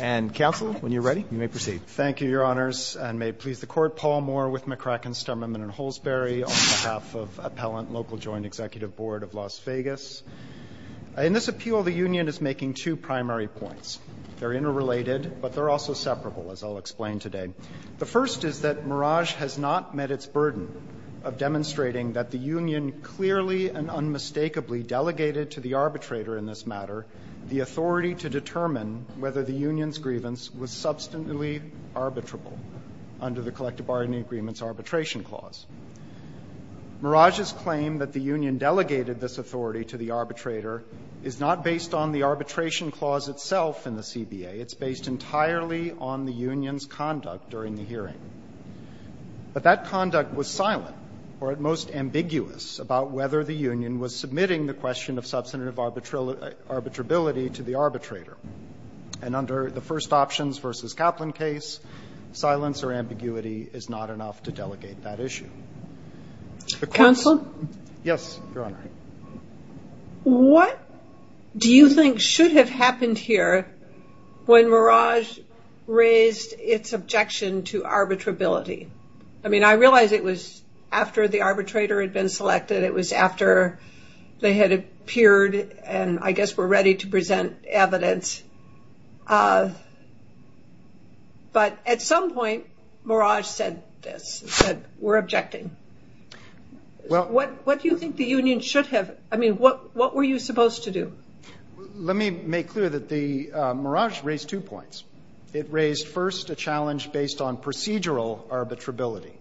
And, Counsel, when you're ready, you may proceed. Thank you, Your Honors. And may it please the Court, Paul Moore with McCracken, Stoneman & Holsberry, on behalf of Appellant Local Joint Executive Board of Las Vegas. In this appeal, the union is making two primary points. They're interrelated, but they're also separable, as I'll explain today. The first is that Mirage has not met its burden of demonstrating that the union clearly and unmistakably delegated to the arbitrator in this matter the authority to determine whether the union's grievance was substantively arbitrable under the collective bargaining agreement's arbitration clause. Mirage's claim that the union delegated this authority to the arbitrator is not based on the arbitration clause itself in the CBA. It's based entirely on the union's conduct during the hearing. But that conduct was silent, or at most ambiguous, about whether the union was submitting the question of substantive arbitrability to the arbitrator. And under the First Options v. Kaplan case, silence or ambiguity is not enough to delegate that issue. Counsel? Yes, Your Honor. What do you think should have happened here when Mirage raised its objection to arbitrability? I mean, I realize it was after the arbitrator had been selected. It was after they had appeared and, I guess, were ready to present evidence. But at some point, Mirage said this. It said, We're objecting. What do you think the union should have? I mean, what were you supposed to do? Let me make clear that Mirage raised two points. It raised first a challenge based on procedural arbitrability.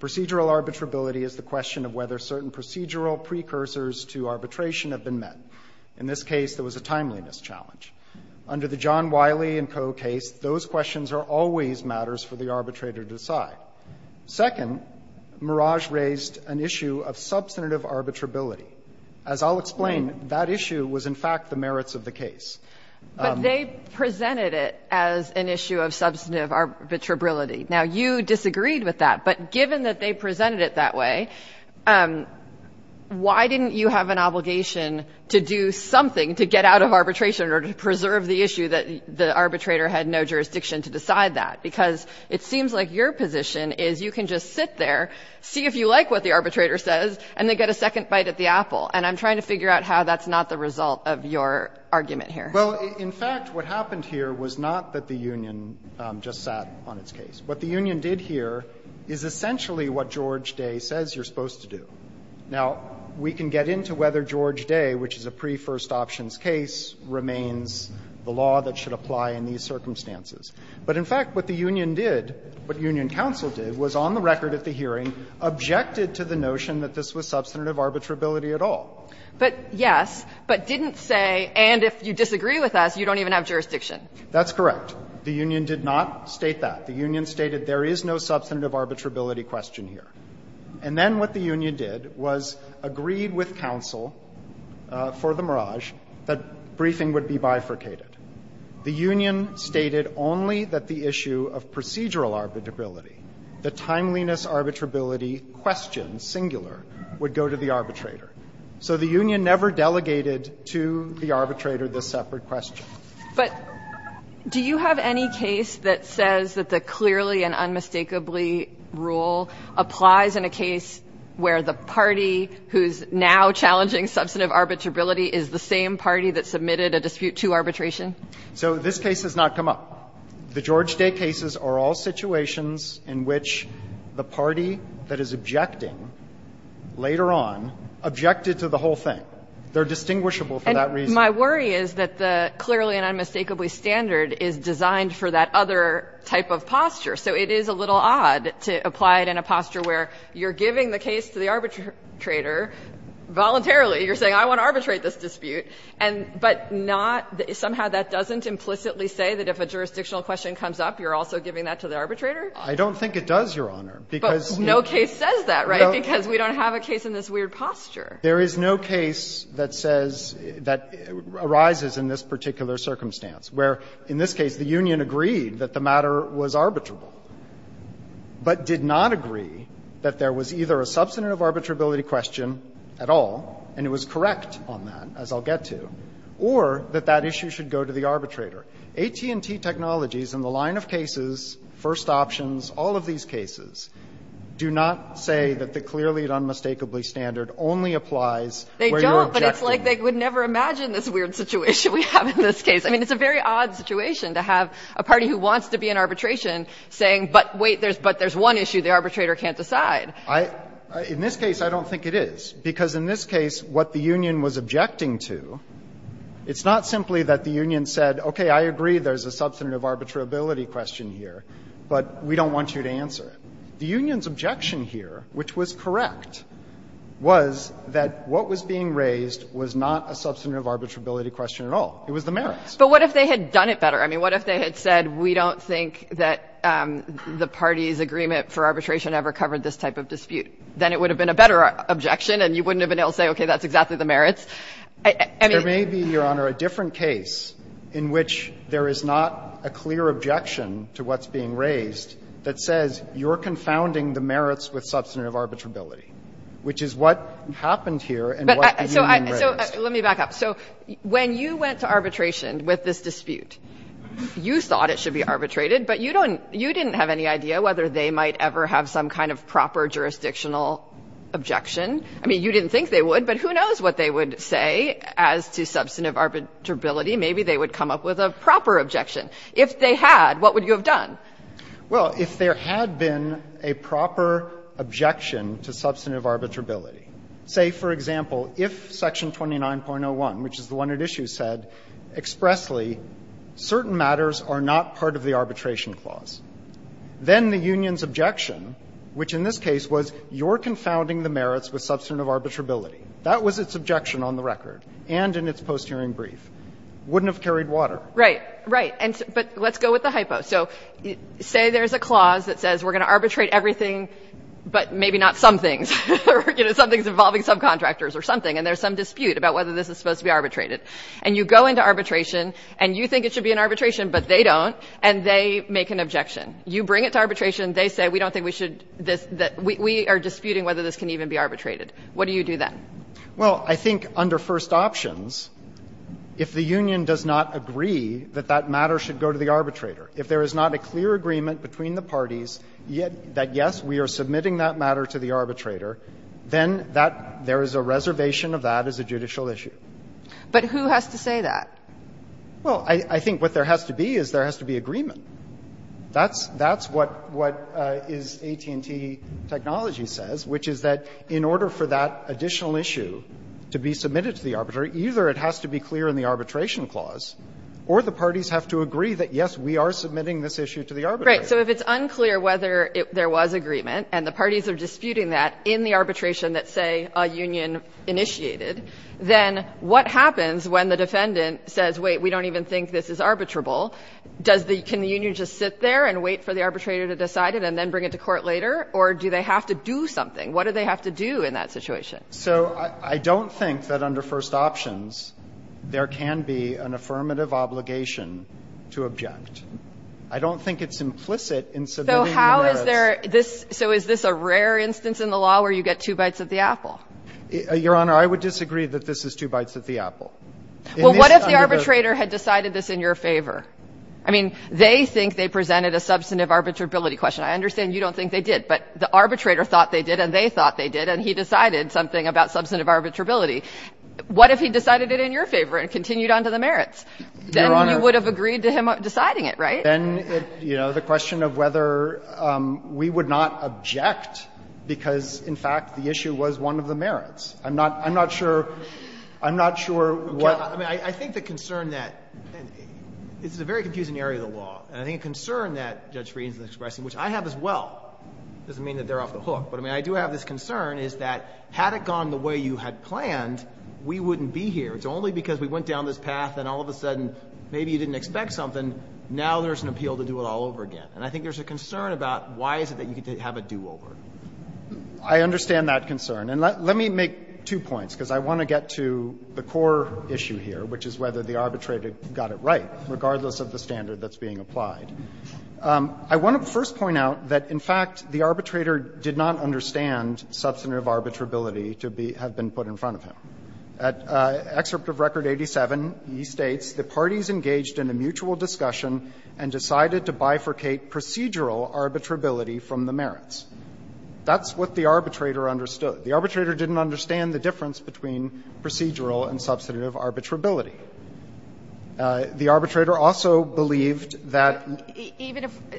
Procedural arbitrability is the question of whether certain procedural precursors to arbitration have been met. In this case, there was a timeliness challenge. Under the John Wiley and Co. case, those questions are always matters for the arbitrator to decide. Second, Mirage raised an issue of substantive arbitrability. As I'll explain, that issue was in fact the merits of the case. But they presented it as an issue of substantive arbitrability. Now, you disagreed with that. But given that they presented it that way, why didn't you have an obligation to do something to get out of arbitration or to preserve the issue that the arbitrator had no jurisdiction to decide that? Because it seems like your position is you can just sit there, see if you like what the arbitrator says, and then get a second bite at the apple. And I'm trying to figure out how that's not the result of your argument here. Well, in fact, what happened here was not that the union just sat on its case. What the union did here is essentially what George Day says you're supposed to do. Now, we can get into whether George Day, which is a pre-first options case, remains the law that should apply in these circumstances. But in fact, what the union did, what union counsel did, was on the record at the But yes, but didn't say, and if you disagree with us, you don't even have jurisdiction. That's correct. The union did not state that. The union stated there is no substantive arbitrability question here. And then what the union did was agreed with counsel for the mirage that briefing would be bifurcated. The union stated only that the issue of procedural arbitrability, the timeliness arbitrability question, singular, would go to the arbitrator. So the union never delegated to the arbitrator this separate question. But do you have any case that says that the clearly and unmistakably rule applies in a case where the party who's now challenging substantive arbitrability is the same party that submitted a dispute to arbitration? So this case has not come up. The George Day cases are all situations in which the party that is objecting later on objected to the whole thing. They're distinguishable for that reason. And my worry is that the clearly and unmistakably standard is designed for that other type of posture. So it is a little odd to apply it in a posture where you're giving the case to the arbitrator voluntarily. You're saying, I want to arbitrate this dispute. And but not the – somehow that doesn't implicitly say that if a jurisdictional question comes up, you're also giving that to the arbitrator? I don't think it does, Your Honor, because we don't have a case in this weird posture. There is no case that says that arises in this particular circumstance, where in this case the union agreed that the matter was arbitrable, but did not agree that there was either a substantive arbitrability question at all, and it was correct on that, as I'll get to, or that that issue should go to the arbitrator. AT&T Technologies, in the line of cases, first options, all of these cases, do not say that the clearly and unmistakably standard only applies where you're objecting. They don't, but it's like they would never imagine this weird situation we have in this case. I mean, it's a very odd situation to have a party who wants to be in arbitration saying, but wait, there's – but there's one issue the arbitrator can't decide. I – in this case, I don't think it is, because in this case what the union was objecting to, it's not simply that the union said, okay, I agree there's a substantive arbitrability question here, but we don't want you to answer it. The union's objection here, which was correct, was that what was being raised was not a substantive arbitrability question at all. It was the merits. But what if they had done it better? I mean, what if they had said, we don't think that the party's agreement for arbitration ever covered this type of dispute? Then it would have been a better objection, and you wouldn't have been able to say, okay, that's exactly the merits. I mean – There may be, Your Honor, a different case in which there is not a clear objection to what's being raised that says you're confounding the merits with substantive arbitrability, which is what happened here and what the union raised. But so I – so let me back up. So when you went to arbitration with this dispute, you thought it should be arbitrated, but you don't – you didn't have any idea whether they might ever have some kind of proper jurisdictional objection. I mean, you didn't think they would, but who knows what they would say as to substantive arbitrability. Maybe they would come up with a proper objection. If they had, what would you have done? Well, if there had been a proper objection to substantive arbitrability, say, for example, if Section 29.01, which is the one at issue, said expressly certain matters are not part of the arbitration clause, then the union's objection, which in this case was you're confounding the merits with substantive arbitrability, that was its objection on the record and in its post-hearing brief, wouldn't have carried water. Right. Right. But let's go with the hypo. So say there's a clause that says we're going to arbitrate everything, but maybe not some things, or, you know, some things involving subcontractors or something, and there's some dispute about whether this is supposed to be arbitrated. And you go into arbitration, and you think it should be an arbitration, but they don't, and they make an objection. You bring it to arbitration, and they say we don't think we should this, that we are disputing whether this can even be arbitrated. What do you do then? Well, I think under first options, if the union does not agree that that matter should go to the arbitrator, if there is not a clear agreement between the parties that, yes, we are submitting that matter to the arbitrator, then that, there is a reservation of that as a judicial issue. But who has to say that? Well, I think what there has to be is there has to be agreement. That's what AT&T technology says, which is that in order for that additional issue to be submitted to the arbitrator, either it has to be clear in the arbitration clause, or the parties have to agree that, yes, we are submitting this issue to the arbitrator. Right. So if it's unclear whether there was agreement, and the parties are disputing that in the arbitration that, say, a union initiated, then what happens when the defendant says, wait, we don't even think this is arbitrable? Does the union just sit there and wait for the arbitrator to decide it and then bring it to court later? Or do they have to do something? What do they have to do in that situation? So I don't think that under first options there can be an affirmative obligation to object. I don't think it's implicit in civilian merits. So how is there this so is this a rare instance in the law where you get two bites at the apple? Your Honor, I would disagree that this is two bites at the apple. Well, what if the arbitrator had decided this in your favor? I mean, they think they presented a substantive arbitrability question. I understand you don't think they did, but the arbitrator thought they did and they thought they did, and he decided something about substantive arbitrability. What if he decided it in your favor and continued on to the merits? Your Honor. Then you would have agreed to him deciding it, right? Then, you know, the question of whether we would not object because, in fact, the issue was one of the merits. I'm not sure what the issue was. This is a very confusing area of the law. And I think a concern that Judge Frieden is expressing, which I have as well, doesn't mean that they're off the hook. But I mean, I do have this concern is that had it gone the way you had planned, we wouldn't be here. It's only because we went down this path and all of a sudden maybe you didn't expect something. Now there's an appeal to do it all over again. And I think there's a concern about why is it that you have a do-over. I understand that concern. And let me make two points, because I want to get to the core issue here, which is whether the arbitrator got it right, regardless of the standard that's being applied. I want to first point out that, in fact, the arbitrator did not understand substantive arbitrability to have been put in front of him. At Excerpt of Record 87, he states the parties engaged in a mutual discussion and decided to bifurcate procedural arbitrability from the merits. That's what the arbitrator understood. The arbitrator didn't understand the difference between procedural and substantive arbitrability. The arbitrator also believed that – Even if –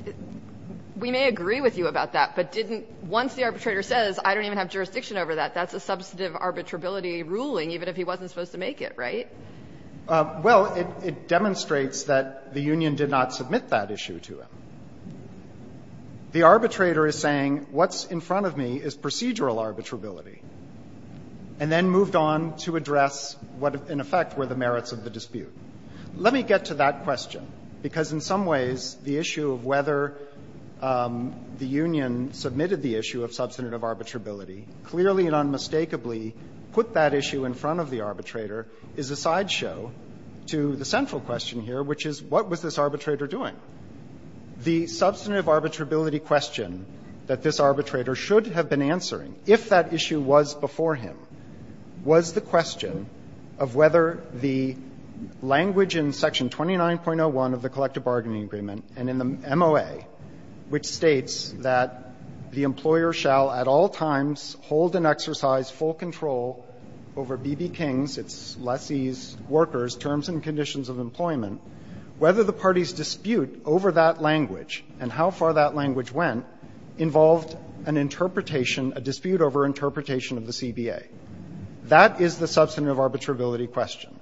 we may agree with you about that, but didn't – once the arbitrator says, I don't even have jurisdiction over that, that's a substantive arbitrability ruling, even if he wasn't supposed to make it, right? Well, it demonstrates that the union did not submit that issue to him. The arbitrator is saying, what's in front of me is procedural arbitrability, and then moved on to address what, in effect, were the merits of the dispute. Let me get to that question, because in some ways, the issue of whether the union submitted the issue of substantive arbitrability clearly and unmistakably put that issue in front of the arbitrator is a sideshow to the central question here, which is, what was this arbitrator doing? The substantive arbitrability question that this arbitrator should have been answering if that issue was before him was the question of whether the language in section 29.01 of the collective bargaining agreement and in the MOA, which states that the employer shall at all times hold and exercise full control over B.B. King's, its lessee's, workers' terms and conditions of employment, whether the party's dispute over that language and how far that language went involved an interpretation, a dispute over interpretation of the CBA. That is the substantive arbitrability question.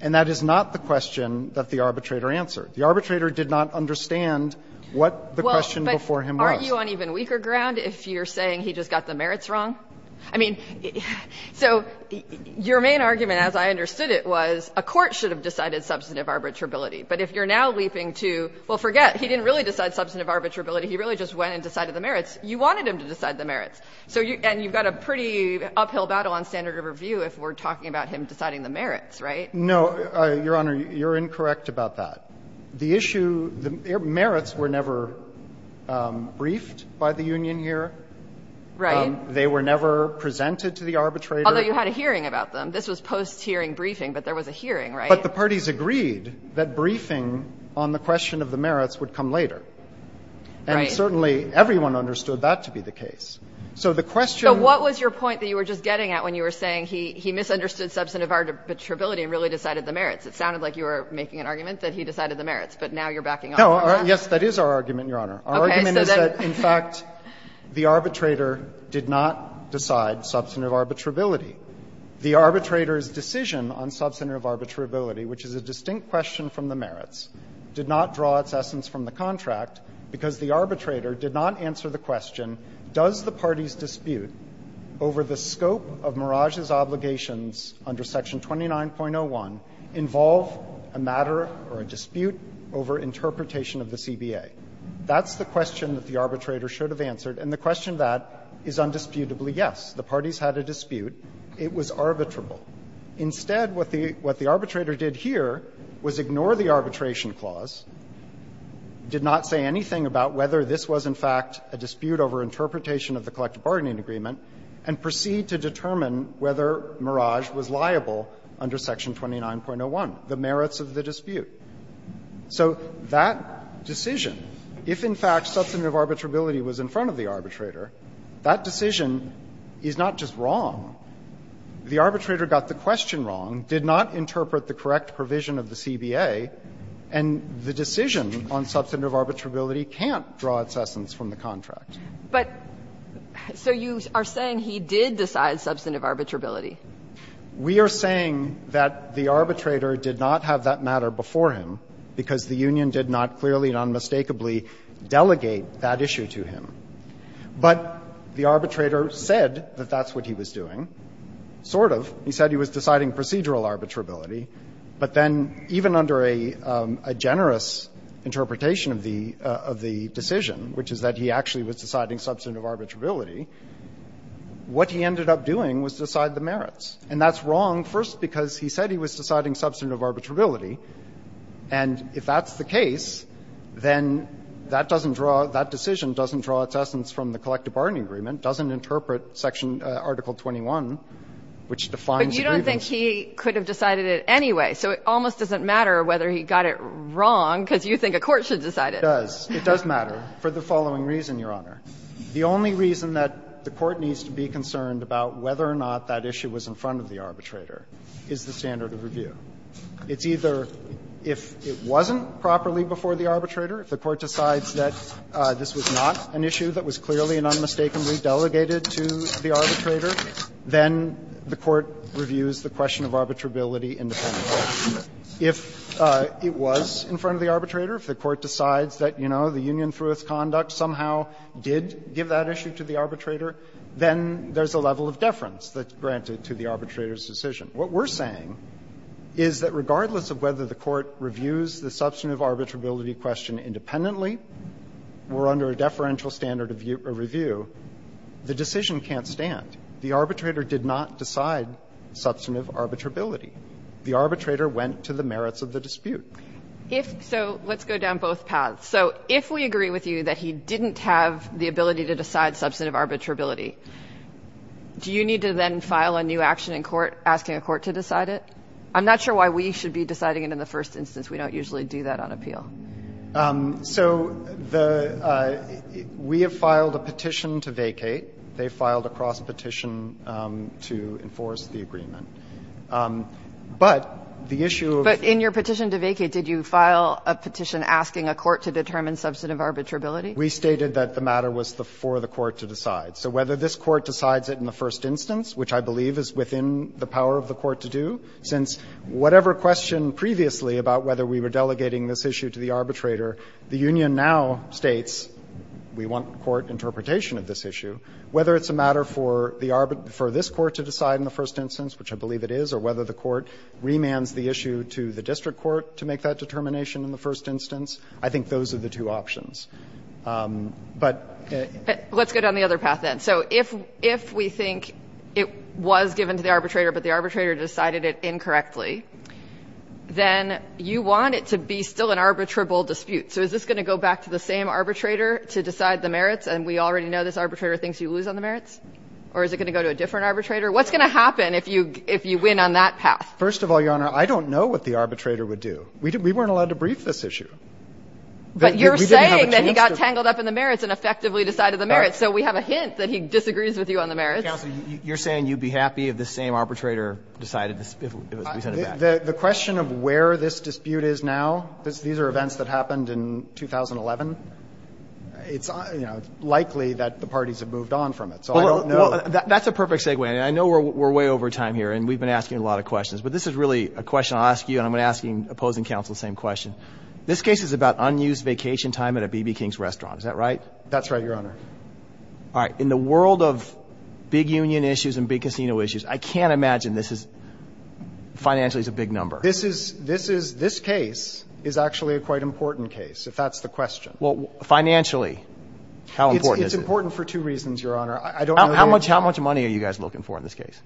And that is not the question that the arbitrator answered. The arbitrator did not understand what the question before him was. But aren't you on even weaker ground if you're saying he just got the merits wrong? I mean, so your main argument, as I understood it, was a court should have decided substantive arbitrability, but if you're now leaping to, well, forget, he didn't really decide substantive arbitrability, he really just went and decided the merits. You wanted him to decide the merits. And you've got a pretty uphill battle on standard of review if we're talking about him deciding the merits, right? No, Your Honor, you're incorrect about that. The issue, the merits were never briefed by the union here. Right. They were never presented to the arbitrator. Although you had a hearing about them. This was post-hearing briefing, but there was a hearing, right? But the parties agreed that briefing on the question of the merits would come later. Right. And certainly everyone understood that to be the case. So the question So what was your point that you were just getting at when you were saying he misunderstood substantive arbitrability and really decided the merits? It sounded like you were making an argument that he decided the merits, but now you're backing off on that. No, yes, that is our argument, Your Honor. Our argument is that, in fact, the arbitrator did not decide substantive arbitrability. The arbitrator's decision on substantive arbitrability, which is a distinct question from the merits, did not draw its essence from the contract because the parties' dispute over the scope of Merage's obligations under Section 29.01 involve a matter or a dispute over interpretation of the CBA. That's the question that the arbitrator should have answered, and the question that is undisputably yes. The parties had a dispute. It was arbitrable. Instead, what the arbitrator did here was ignore the arbitration clause, did not say anything about whether this was in fact a dispute over interpretation of the collective bargaining agreement, and proceeded to determine whether Merage was liable under Section 29.01, the merits of the dispute. So that decision, if in fact substantive arbitrability was in front of the arbitrator, that decision is not just wrong. The arbitrator got the question wrong, did not interpret the correct provision of the CBA, and the decision on substantive arbitrability can't draw its essence from the contract. But so you are saying he did decide substantive arbitrability? We are saying that the arbitrator did not have that matter before him because the union did not clearly and unmistakably delegate that issue to him. But the arbitrator said that that's what he was doing, sort of. He said he was deciding procedural arbitrability, but then even under a generous interpretation of the decision, which is that he actually was deciding substantive arbitrability, what he ended up doing was decide the merits. And that's wrong first because he said he was deciding substantive arbitrability. And if that's the case, then that decision doesn't draw its essence from the collective bargaining agreement, doesn't interpret section article 21, which defines the grievance. But you don't think he could have decided it anyway, so it almost doesn't matter whether he got it wrong because you think a court should decide it. It does. It does matter for the following reason, Your Honor. The only reason that the court needs to be concerned about whether or not that issue was in front of the arbitrator is the standard of review. It's either if it wasn't properly before the arbitrator, if the court decides that this was not an issue that was clearly and unmistakably delegated to the arbitrator, then the court reviews the question of arbitrability independently. If it was in front of the arbitrator, if the court decides that, you know, the union-through-it conduct somehow did give that issue to the arbitrator, then there's a level of deference that's granted to the arbitrator's decision. What we're saying is that regardless of whether the court reviews the substantive arbitrability question independently or under a deferential standard of review, the decision can't stand. The arbitrator did not decide substantive arbitrability. The arbitrator went to the merits of the dispute. So let's go down both paths. So if we agree with you that he didn't have the ability to decide substantive arbitrability, do you need to then file a new action in court asking a court to decide it? I'm not sure why we should be deciding it in the first instance. We don't usually do that on appeal. So the we have filed a petition to vacate. They filed a cross-petition to enforce the agreement. But the issue of the But in your petition to vacate, did you file a petition asking a court to determine substantive arbitrability? We stated that the matter was for the court to decide. So whether this court decides it in the first instance, which I believe is within the power of the court to do, since whatever question previously about whether we were delegating this issue to the arbitrator, the union now states we want court interpretation of this issue, whether it's a matter for the arbitrator, for this court to decide in the first instance, which I believe it is, or whether the court remands the issue to the district court to make that determination in the first instance, I think those are the two options. But Let's go down the other path then. So if we think it was given to the arbitrator, but the arbitrator decided it incorrectly, then you want it to be still an arbitrable dispute. So is this going to go back to the same arbitrator to decide the merits? And we already know this arbitrator thinks you lose on the merits? Or is it going to go to a different arbitrator? What's going to happen if you win on that path? First of all, Your Honor, I don't know what the arbitrator would do. We weren't allowed to brief this issue. the merits. So we have a hint that he disagrees with you on the merits. Counsel, you're saying you'd be happy if the same arbitrator decided this, if we sent it back? The question of where this dispute is now, these are events that happened in 2011. It's likely that the parties have moved on from it. So I don't know. Well, that's a perfect segue. I know we're way over time here, and we've been asking a lot of questions. But this is really a question I'll ask you, and I'm going to ask you, opposing counsel, the same question. This case is about unused vacation time at a B.B. King's restaurant, is that right? That's right, Your Honor. All right. In the world of big union issues and big casino issues, I can't imagine this is financially a big number. This case is actually a quite important case, if that's the question. Well, financially, how important is it? It's important for two reasons, Your Honor. I don't know the answer. How much money are you guys looking for in this case?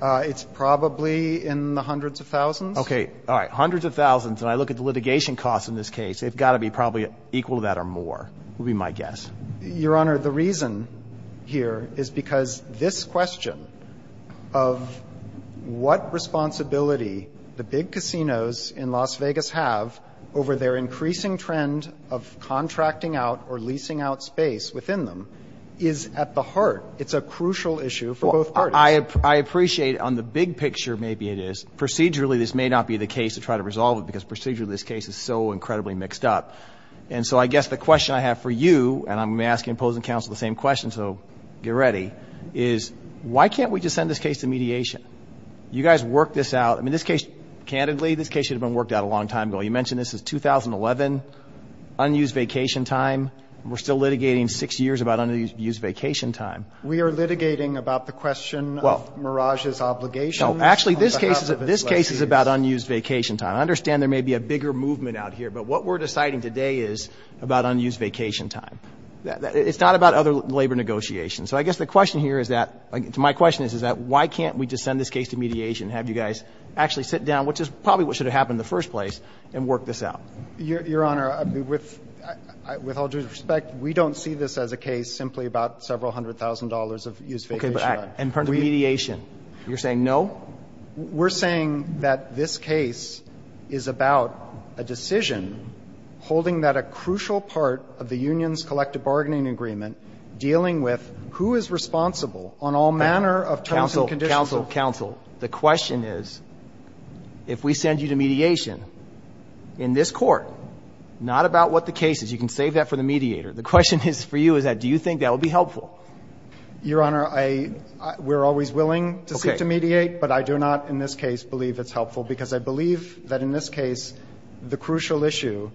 It's probably in the hundreds of thousands. OK. All right. Hundreds of thousands. And I look at the litigation costs in this case. They've got to be probably equal to that or more, would be my guess. Your Honor, the reason here is because this question of what responsibility the big casinos in Las Vegas have over their increasing trend of contracting out or leasing out space within them is at the heart. It's a crucial issue for both parties. I appreciate on the big picture, maybe it is. Procedurally, this may not be the case to try to resolve it, because procedurally this case is so incredibly mixed up. And so I guess the question I have for you, and I'm asking opposing counsel the same question, so get ready, is why can't we just send this case to mediation? You guys worked this out. I mean, this case, candidly, this case should have been worked out a long time ago. You mentioned this is 2011, unused vacation time. We're still litigating six years about unused vacation time. We are litigating about the question of Mirage's obligations. No, actually, this case is about unused vacation time. I understand there may be a bigger movement out here, but what we're deciding today is about unused vacation time. It's not about other labor negotiations. So I guess the question here is that, my question is, is that why can't we just send this case to mediation, have you guys actually sit down, which is probably what should have happened in the first place, and work this out? Your Honor, with all due respect, we don't see this as a case simply about several hundred thousand dollars of used vacation time. In terms of mediation, you're saying no? We're saying that this case is about a decision holding that a crucial part of the union's collective bargaining agreement dealing with who is responsible on all manner of terms and conditions. Counsel, counsel, counsel, the question is, if we send you to mediation, in this court, not about what the case is, you can save that for the mediator, the question is for you is that do you think that would be helpful? Your Honor, I we're always willing to seek to mediate, but I do not in this case believe it's helpful, because I believe that in this case the crucial issue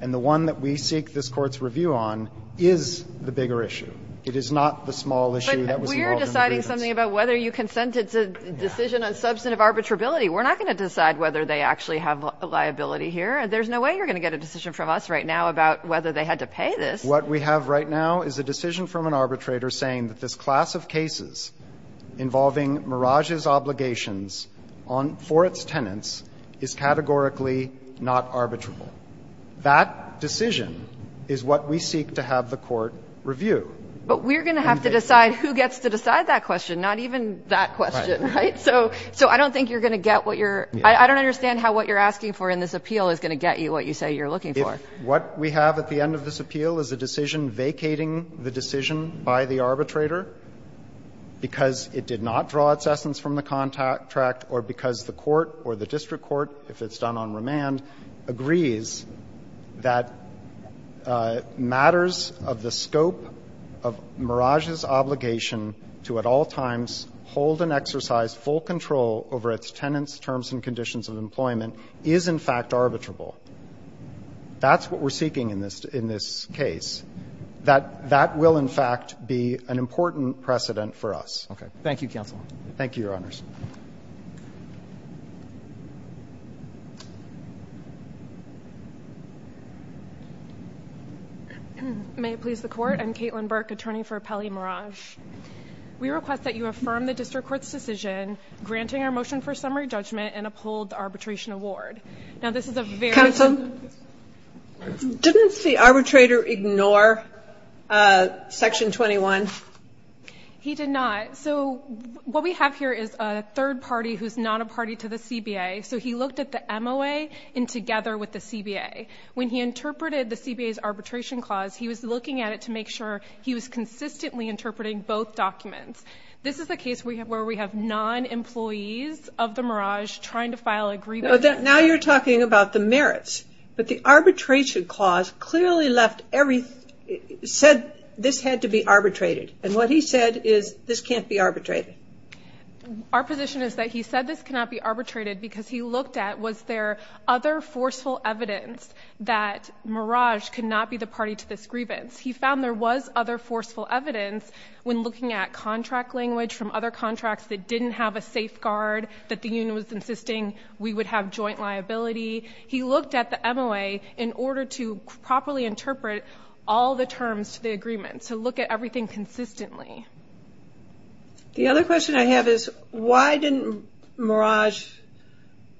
and the one that we seek this Court's review on is the bigger issue. It is not the small issue that was involved in the grievance. But we're deciding something about whether you consent, it's a decision on substantive arbitrability. We're not going to decide whether they actually have a liability here. There's no way you're going to get a decision from us right now about whether they had to pay this. What we have right now is a decision from an arbitrator saying that this class of cases involving Merage's obligations on for its tenants is categorically not arbitrable. That decision is what we seek to have the Court review. But we're going to have to decide who gets to decide that question, not even that question, right? So I don't think you're going to get what you're – I don't understand how what you're asking for in this appeal is going to get you what you say you're looking for. So what we have at the end of this appeal is a decision vacating the decision by the arbitrator because it did not draw its essence from the contract or because the Court or the district court, if it's done on remand, agrees that matters of the scope of Merage's obligation to at all times hold and exercise full control over its tenants' terms and conditions of employment is, in fact, arbitrable. That's what we're seeking in this case. That will, in fact, be an important precedent for us. Okay. Thank you, counsel. Thank you, Your Honors. May it please the Court? I'm Caitlin Burke, attorney for Peli Merage. We request that you affirm the district court's decision granting our motion for summary judgment and uphold the arbitration award. Now, this is a very... Counsel? Didn't the arbitrator ignore Section 21? He did not. So what we have here is a third party who's not a party to the CBA. So he looked at the MOA and together with the CBA. When he interpreted the CBA's arbitration clause, he was looking at it to make sure he was consistently interpreting both documents. This is the case where we have non-employees of the Merage trying to file a grievance... Now you're talking about the merits. But the arbitration clause clearly left every... said this had to be arbitrated. And what he said is this can't be arbitrated. Our position is that he said this cannot be arbitrated because he looked at was there other forceful evidence that Merage could not be the party to this grievance. He found there was other forceful evidence when looking at contract language from other contracts that didn't have a safeguard, that the union was insisting we would have joint liability. He looked at the MOA in order to properly interpret all the terms to the agreement. So look at everything consistently. The other question I have is why didn't Merage...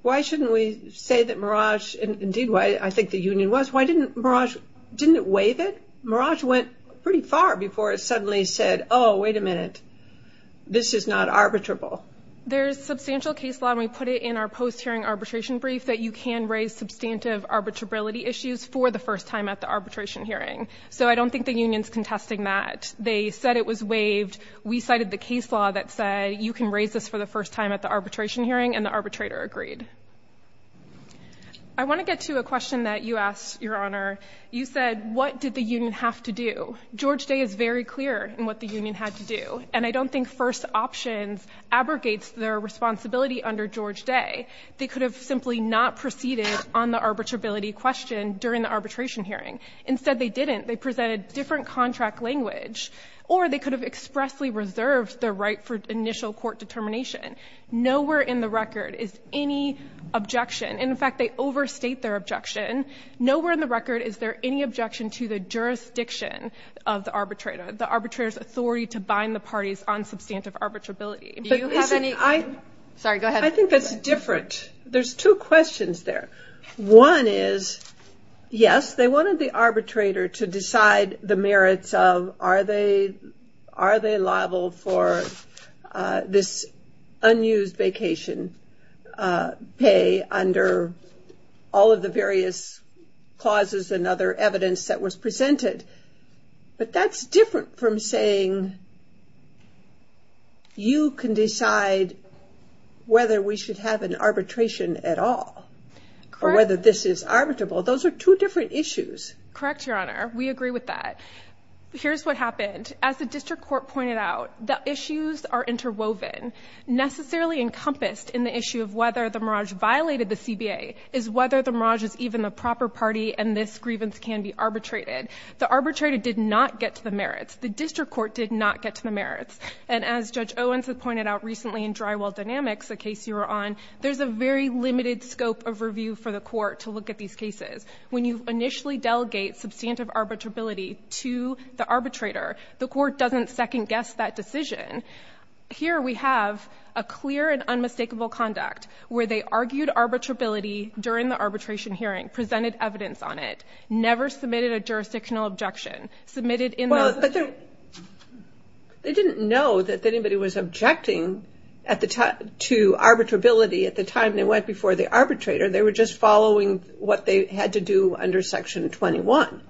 Why shouldn't we say that Merage, and indeed why I think the union was, why didn't Merage, didn't it waive it? Merage went pretty far before it suddenly said, oh, wait a minute. This is not arbitrable. There's substantial case law, and we put it in our post-hearing arbitration brief, that you can raise substantive arbitrability issues for the first time at the arbitration hearing. So I don't think the union's contesting that. They said it was waived. We cited the case law that said you can raise this for the first time at the arbitration hearing, and the arbitrator agreed. I want to get to a question that you asked, Your Honor. You said, what did the union have to do? George Day is very clear in what the union had to do. And I don't think first options abrogates their responsibility under George Day. They could have simply not proceeded on the arbitrability question during the arbitration hearing. Instead, they didn't. They presented different contract language, or they could have expressly reserved the right for initial court determination. Nowhere in the record is any objection. In fact, they overstate their objection. Nowhere in the record is there any objection to the jurisdiction of the arbitrator, the arbitrator's authority to bind the parties on substantive arbitrability. Do you have any? Sorry, go ahead. I think that's different. There's two questions there. One is, yes, they wanted the arbitrator to decide the merits of, are they liable for this unused vacation pay under all of the various clauses and other evidence that was presented. But that's different from saying you can decide whether we should have an arbitration at all, or whether this is arbitrable. Those are two different issues. Correct, Your Honor. We agree with that. Here's what happened. As the district court pointed out, the issues are interwoven. Necessarily encompassed in the issue of whether the Merage violated the CBA is whether the Merage is even a proper party and this grievance can be arbitrated. The arbitrator did not get to the merits. The district court did not get to the merits. And as Judge Owens has pointed out recently in Drywall Dynamics, a case you were on, there's a very limited scope of review for the court to look at these cases. When you initially delegate substantive arbitrability to the arbitrator, the court doesn't second guess that decision. Here we have a clear and unmistakable conduct where they argued arbitrability during the arbitration hearing, presented evidence on it, never submitted a jurisdictional objection, submitted in the... Well, but they didn't know that anybody was objecting to arbitrability at the time they went before the arbitrator. They were just following what they had to do under Section 21.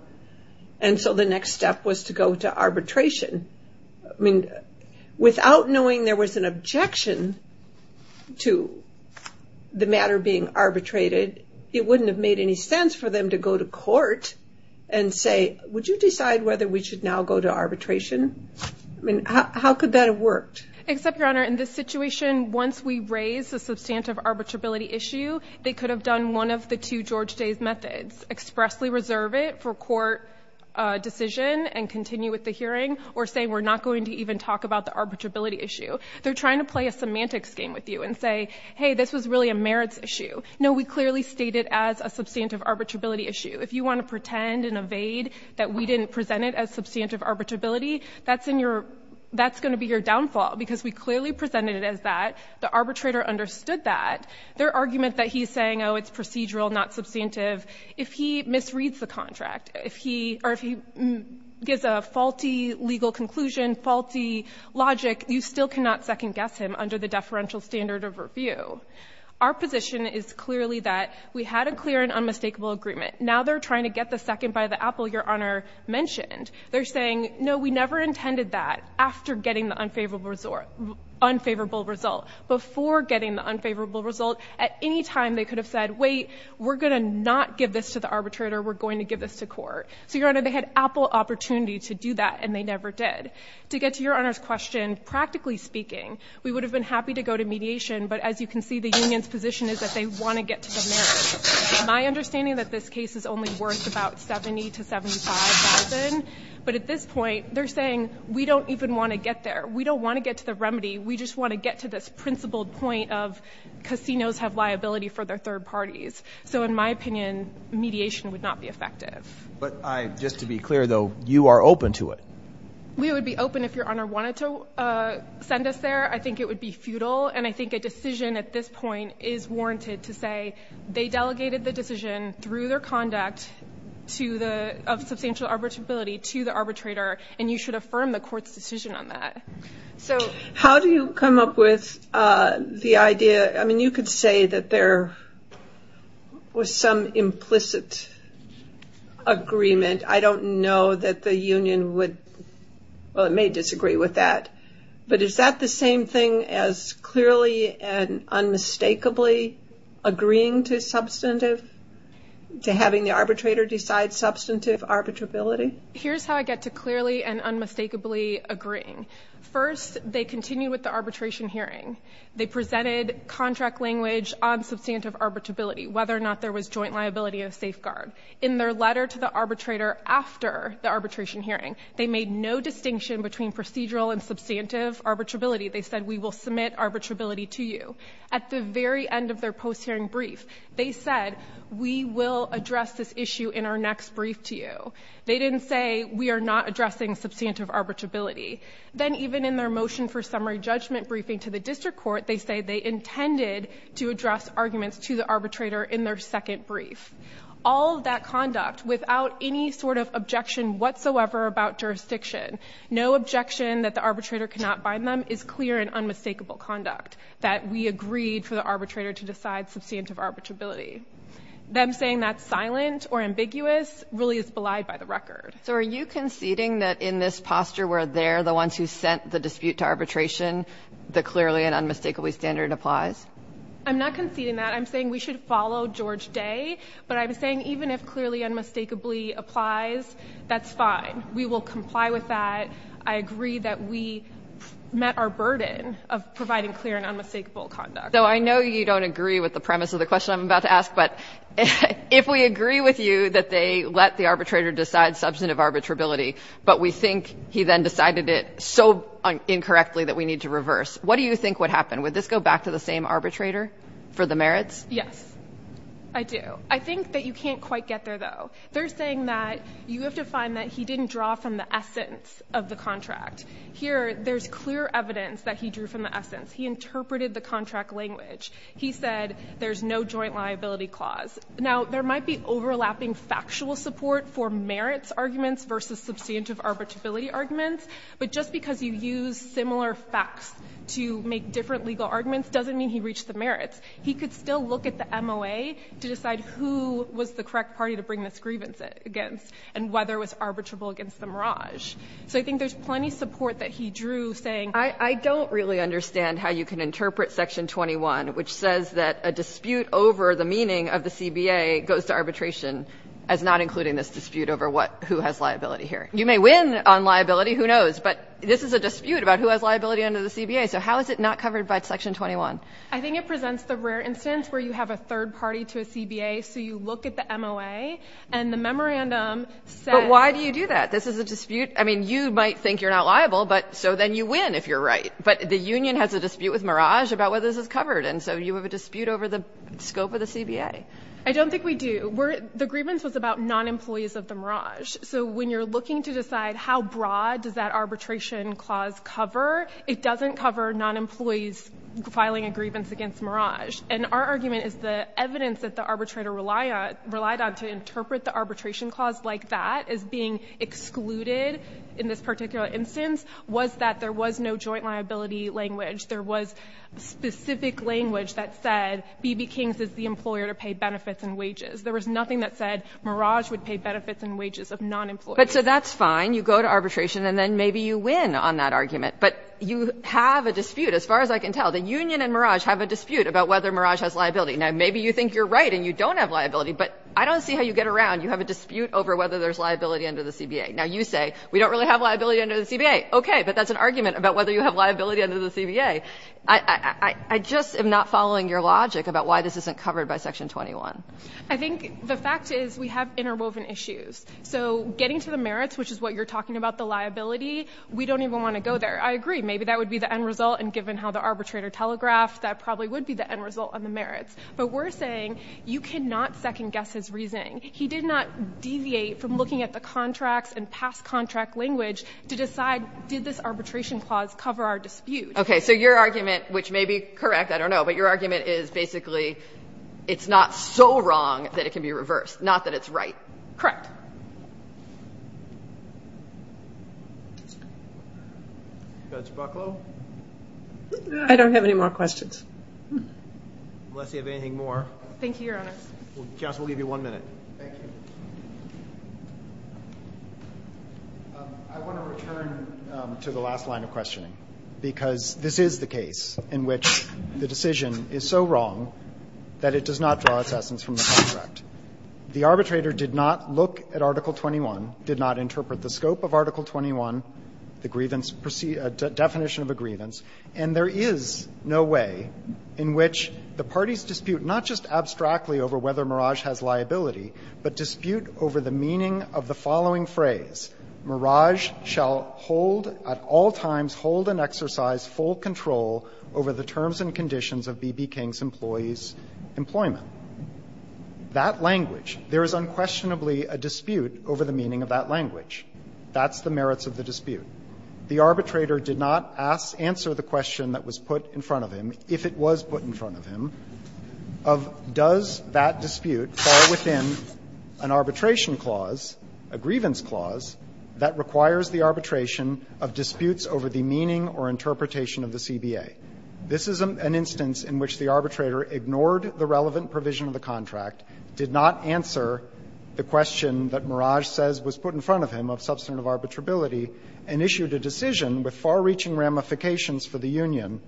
And so the next step was to go to arbitration. I mean, without knowing there was an objection to the matter being arbitrated, it wouldn't have made any sense for them to go to court and say, would you decide whether we should now go to arbitration? I mean, how could that have worked? Except, Your Honor, in this situation, once we raise a substantive arbitrability issue, they could have done one of the two George Days methods, expressly reserve it for court decision and continue with the hearing, or say, we're not going to even talk about the arbitrability issue. They're trying to play a semantics game with you and say, hey, this was really a merits issue. No, we clearly state it as a substantive arbitrability issue. If you want to pretend and evade that we didn't present it as substantive arbitrability, that's going to be your downfall, because we clearly presented it as that. The arbitrator understood that. Their argument that he's saying, oh, it's procedural, not substantive, if he misreads the contract, or if he gives a faulty legal conclusion, faulty logic, you still cannot second-guess him under the deferential standard of review. Our position is clearly that we had a clear and unmistakable agreement. Now they're trying to get the second by the apple Your Honor mentioned. They're saying, no, we never intended that after getting the unfavorable result. Before getting the unfavorable result, at any time they could have said, wait, we're going to not give this to the arbitrator, we're going to give this to court. So, Your Honor, they had apple opportunity to do that, and they never did. To get to Your Honor's question, practically speaking, we would have been happy to go to mediation. But as you can see, the union's position is that they want to get to the merits. My understanding that this case is only worth about $70,000 to $75,000. But at this point, they're saying, we don't even want to get there. We don't want to get to the remedy. We just want to get to this principled point of casinos have liability for their third parties. So in my opinion, mediation would not be effective. But just to be clear, though, you are open to it. We would be open if Your Honor wanted to send us there. I think it would be futile. And I think a decision at this point is warranted to say, they delegated the decision through their conduct of substantial arbitrability to the arbitrator. And you should affirm the court's decision on that. How do you come up with the idea? I mean, you could say that there was some implicit agreement. I don't know that the union would, well, it may disagree with that. But is that the same thing as clearly and unmistakably agreeing to substantive, to having the arbitrator decide substantive arbitrability? Here's how I get to clearly and unmistakably agreeing. First, they continue with the arbitration hearing. They presented contract language on substantive arbitrability, whether or not there was joint liability of safeguard. In their letter to the arbitrator after the arbitration hearing, they made no distinction between procedural and substantive arbitrability. They said, we will submit arbitrability to you. At the very end of their post-hearing brief, they said, we will address this issue in our next brief to you. They didn't say, we are not addressing substantive arbitrability. Then even in their motion for summary judgment briefing to the district court, they say they intended to address arguments to the arbitrator in their second brief. All of that conduct without any sort of objection whatsoever about jurisdiction, no objection that the arbitrator cannot bind them is clear and unmistakable conduct that we agreed for the arbitrator to decide substantive arbitrability. Them saying that's silent or ambiguous really is belied by the record. So are you conceding that in this posture where they're the ones who sent the dispute to arbitration, the clearly and unmistakably standard applies? I'm not conceding that. I'm saying we should follow George Day. But I'm saying even if clearly unmistakably applies, that's fine. We will comply with that. I agree that we met our burden of providing clear and unmistakable conduct. So I know you don't agree with the premise of the question I'm about to ask. But if we agree with you that they let the arbitrator decide substantive arbitrability, but we think he then decided it so incorrectly that we need to reverse. What do you think would happen? Would this go back to the same arbitrator for the merits? Yes, I do. I think that you can't quite get there, though. They're saying that you have to find that he didn't draw from the essence of the contract. Here, there's clear evidence that he drew from the essence. He interpreted the contract language. He said there's no joint liability clause. Now, there might be overlapping factual support for merits arguments versus substantive arbitrability arguments. But just because you use similar facts to make different legal arguments doesn't mean he reached the merits. He could still look at the MOA to decide who was the correct party to bring this grievance against, and whether it was arbitrable against the Merage. So I think there's plenty of support that he drew, saying- I don't really understand how you can interpret section 21, which says that a dispute over the meaning of the CBA goes to arbitration as not including this dispute over who has liability here. You may win on liability. Who knows? But this is a dispute about who has liability under the CBA. So how is it not covered by section 21? I think it presents the rare instance where you have a third party to a CBA. So you look at the MOA and the memorandum says- But why do you do that? This is a dispute. I mean, you might think you're not liable, but so then you win if you're right. But the union has a dispute with Merage about whether this is covered. And so you have a dispute over the scope of the CBA. I don't think we do. The grievance was about non-employees of the Merage. So when you're looking to decide how broad does that arbitration clause cover, it doesn't cover non-employees filing a grievance against Merage. And our argument is the evidence that the arbitrator relied on to interpret the arbitration clause like that as being excluded in this particular instance was that there was no joint liability language. There was specific language that said, B.B. King's is the employer to pay benefits and wages. There was nothing that said Merage would pay benefits and wages of non-employees. But so that's fine. You go to arbitration and then maybe you win on that argument. But you have a dispute, as far as I can tell. The union and Merage have a dispute about whether Merage has liability. Now maybe you think you're right and you don't have liability. But I don't see how you get around. You have a dispute over whether there's liability under the CBA. Now you say, we don't really have liability under the CBA. Okay, but that's an argument about whether you have liability under the CBA. I just am not following your logic about why this isn't covered by section 21. I think the fact is we have interwoven issues. So getting to the merits, which is what you're talking about, the liability, we don't even want to go there. I agree, maybe that would be the end result. And given how the arbitrator telegraphed, that probably would be the end result on the merits. But we're saying, you cannot second guess his reasoning. He did not deviate from looking at the contracts and past contract language to decide, did this arbitration clause cover our dispute? Okay, so your argument, which may be correct, I don't know. But your argument is basically, it's not so wrong that it can be reversed. Not that it's right. Correct. Judge Bucklow? I don't have any more questions. Unless you have anything more. Thank you, Your Honor. Counsel, we'll give you one minute. Thank you. I want to return to the last line of questioning. Because this is the case in which the decision is so wrong that it does not draw its essence from the contract. The arbitrator did not look at Article 21, did not interpret the scope of Article 21, the definition of a grievance. And there is no way in which the parties dispute, not just abstractly over whether Merage has liability, but dispute over the meaning of the following phrase. Merage shall hold at all times, hold and exercise full control over the terms and conditions of B.B. King's employees' employment. That language, there is unquestionably a dispute over the meaning of that language. That's the merits of the dispute. The arbitrator did not ask, answer the question that was put in front of him, if it was put in front of him, of does that dispute fall within an arbitration clause, a grievance clause, that requires the arbitration of disputes over the meaning or interpretation of the CBA. This is an instance in which the arbitrator ignored the relevant provision of the contract, did not answer the question that Merage says was put in front of him of substantive arbitrability, and issued a decision with far-reaching ramifications for the union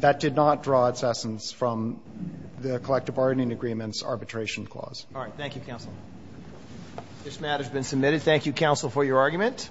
that did not draw its essence from the collective bargaining agreement's arbitration clause. All right. Thank you, Counsel. This matter's been submitted. Thank you, Counsel, for your argument.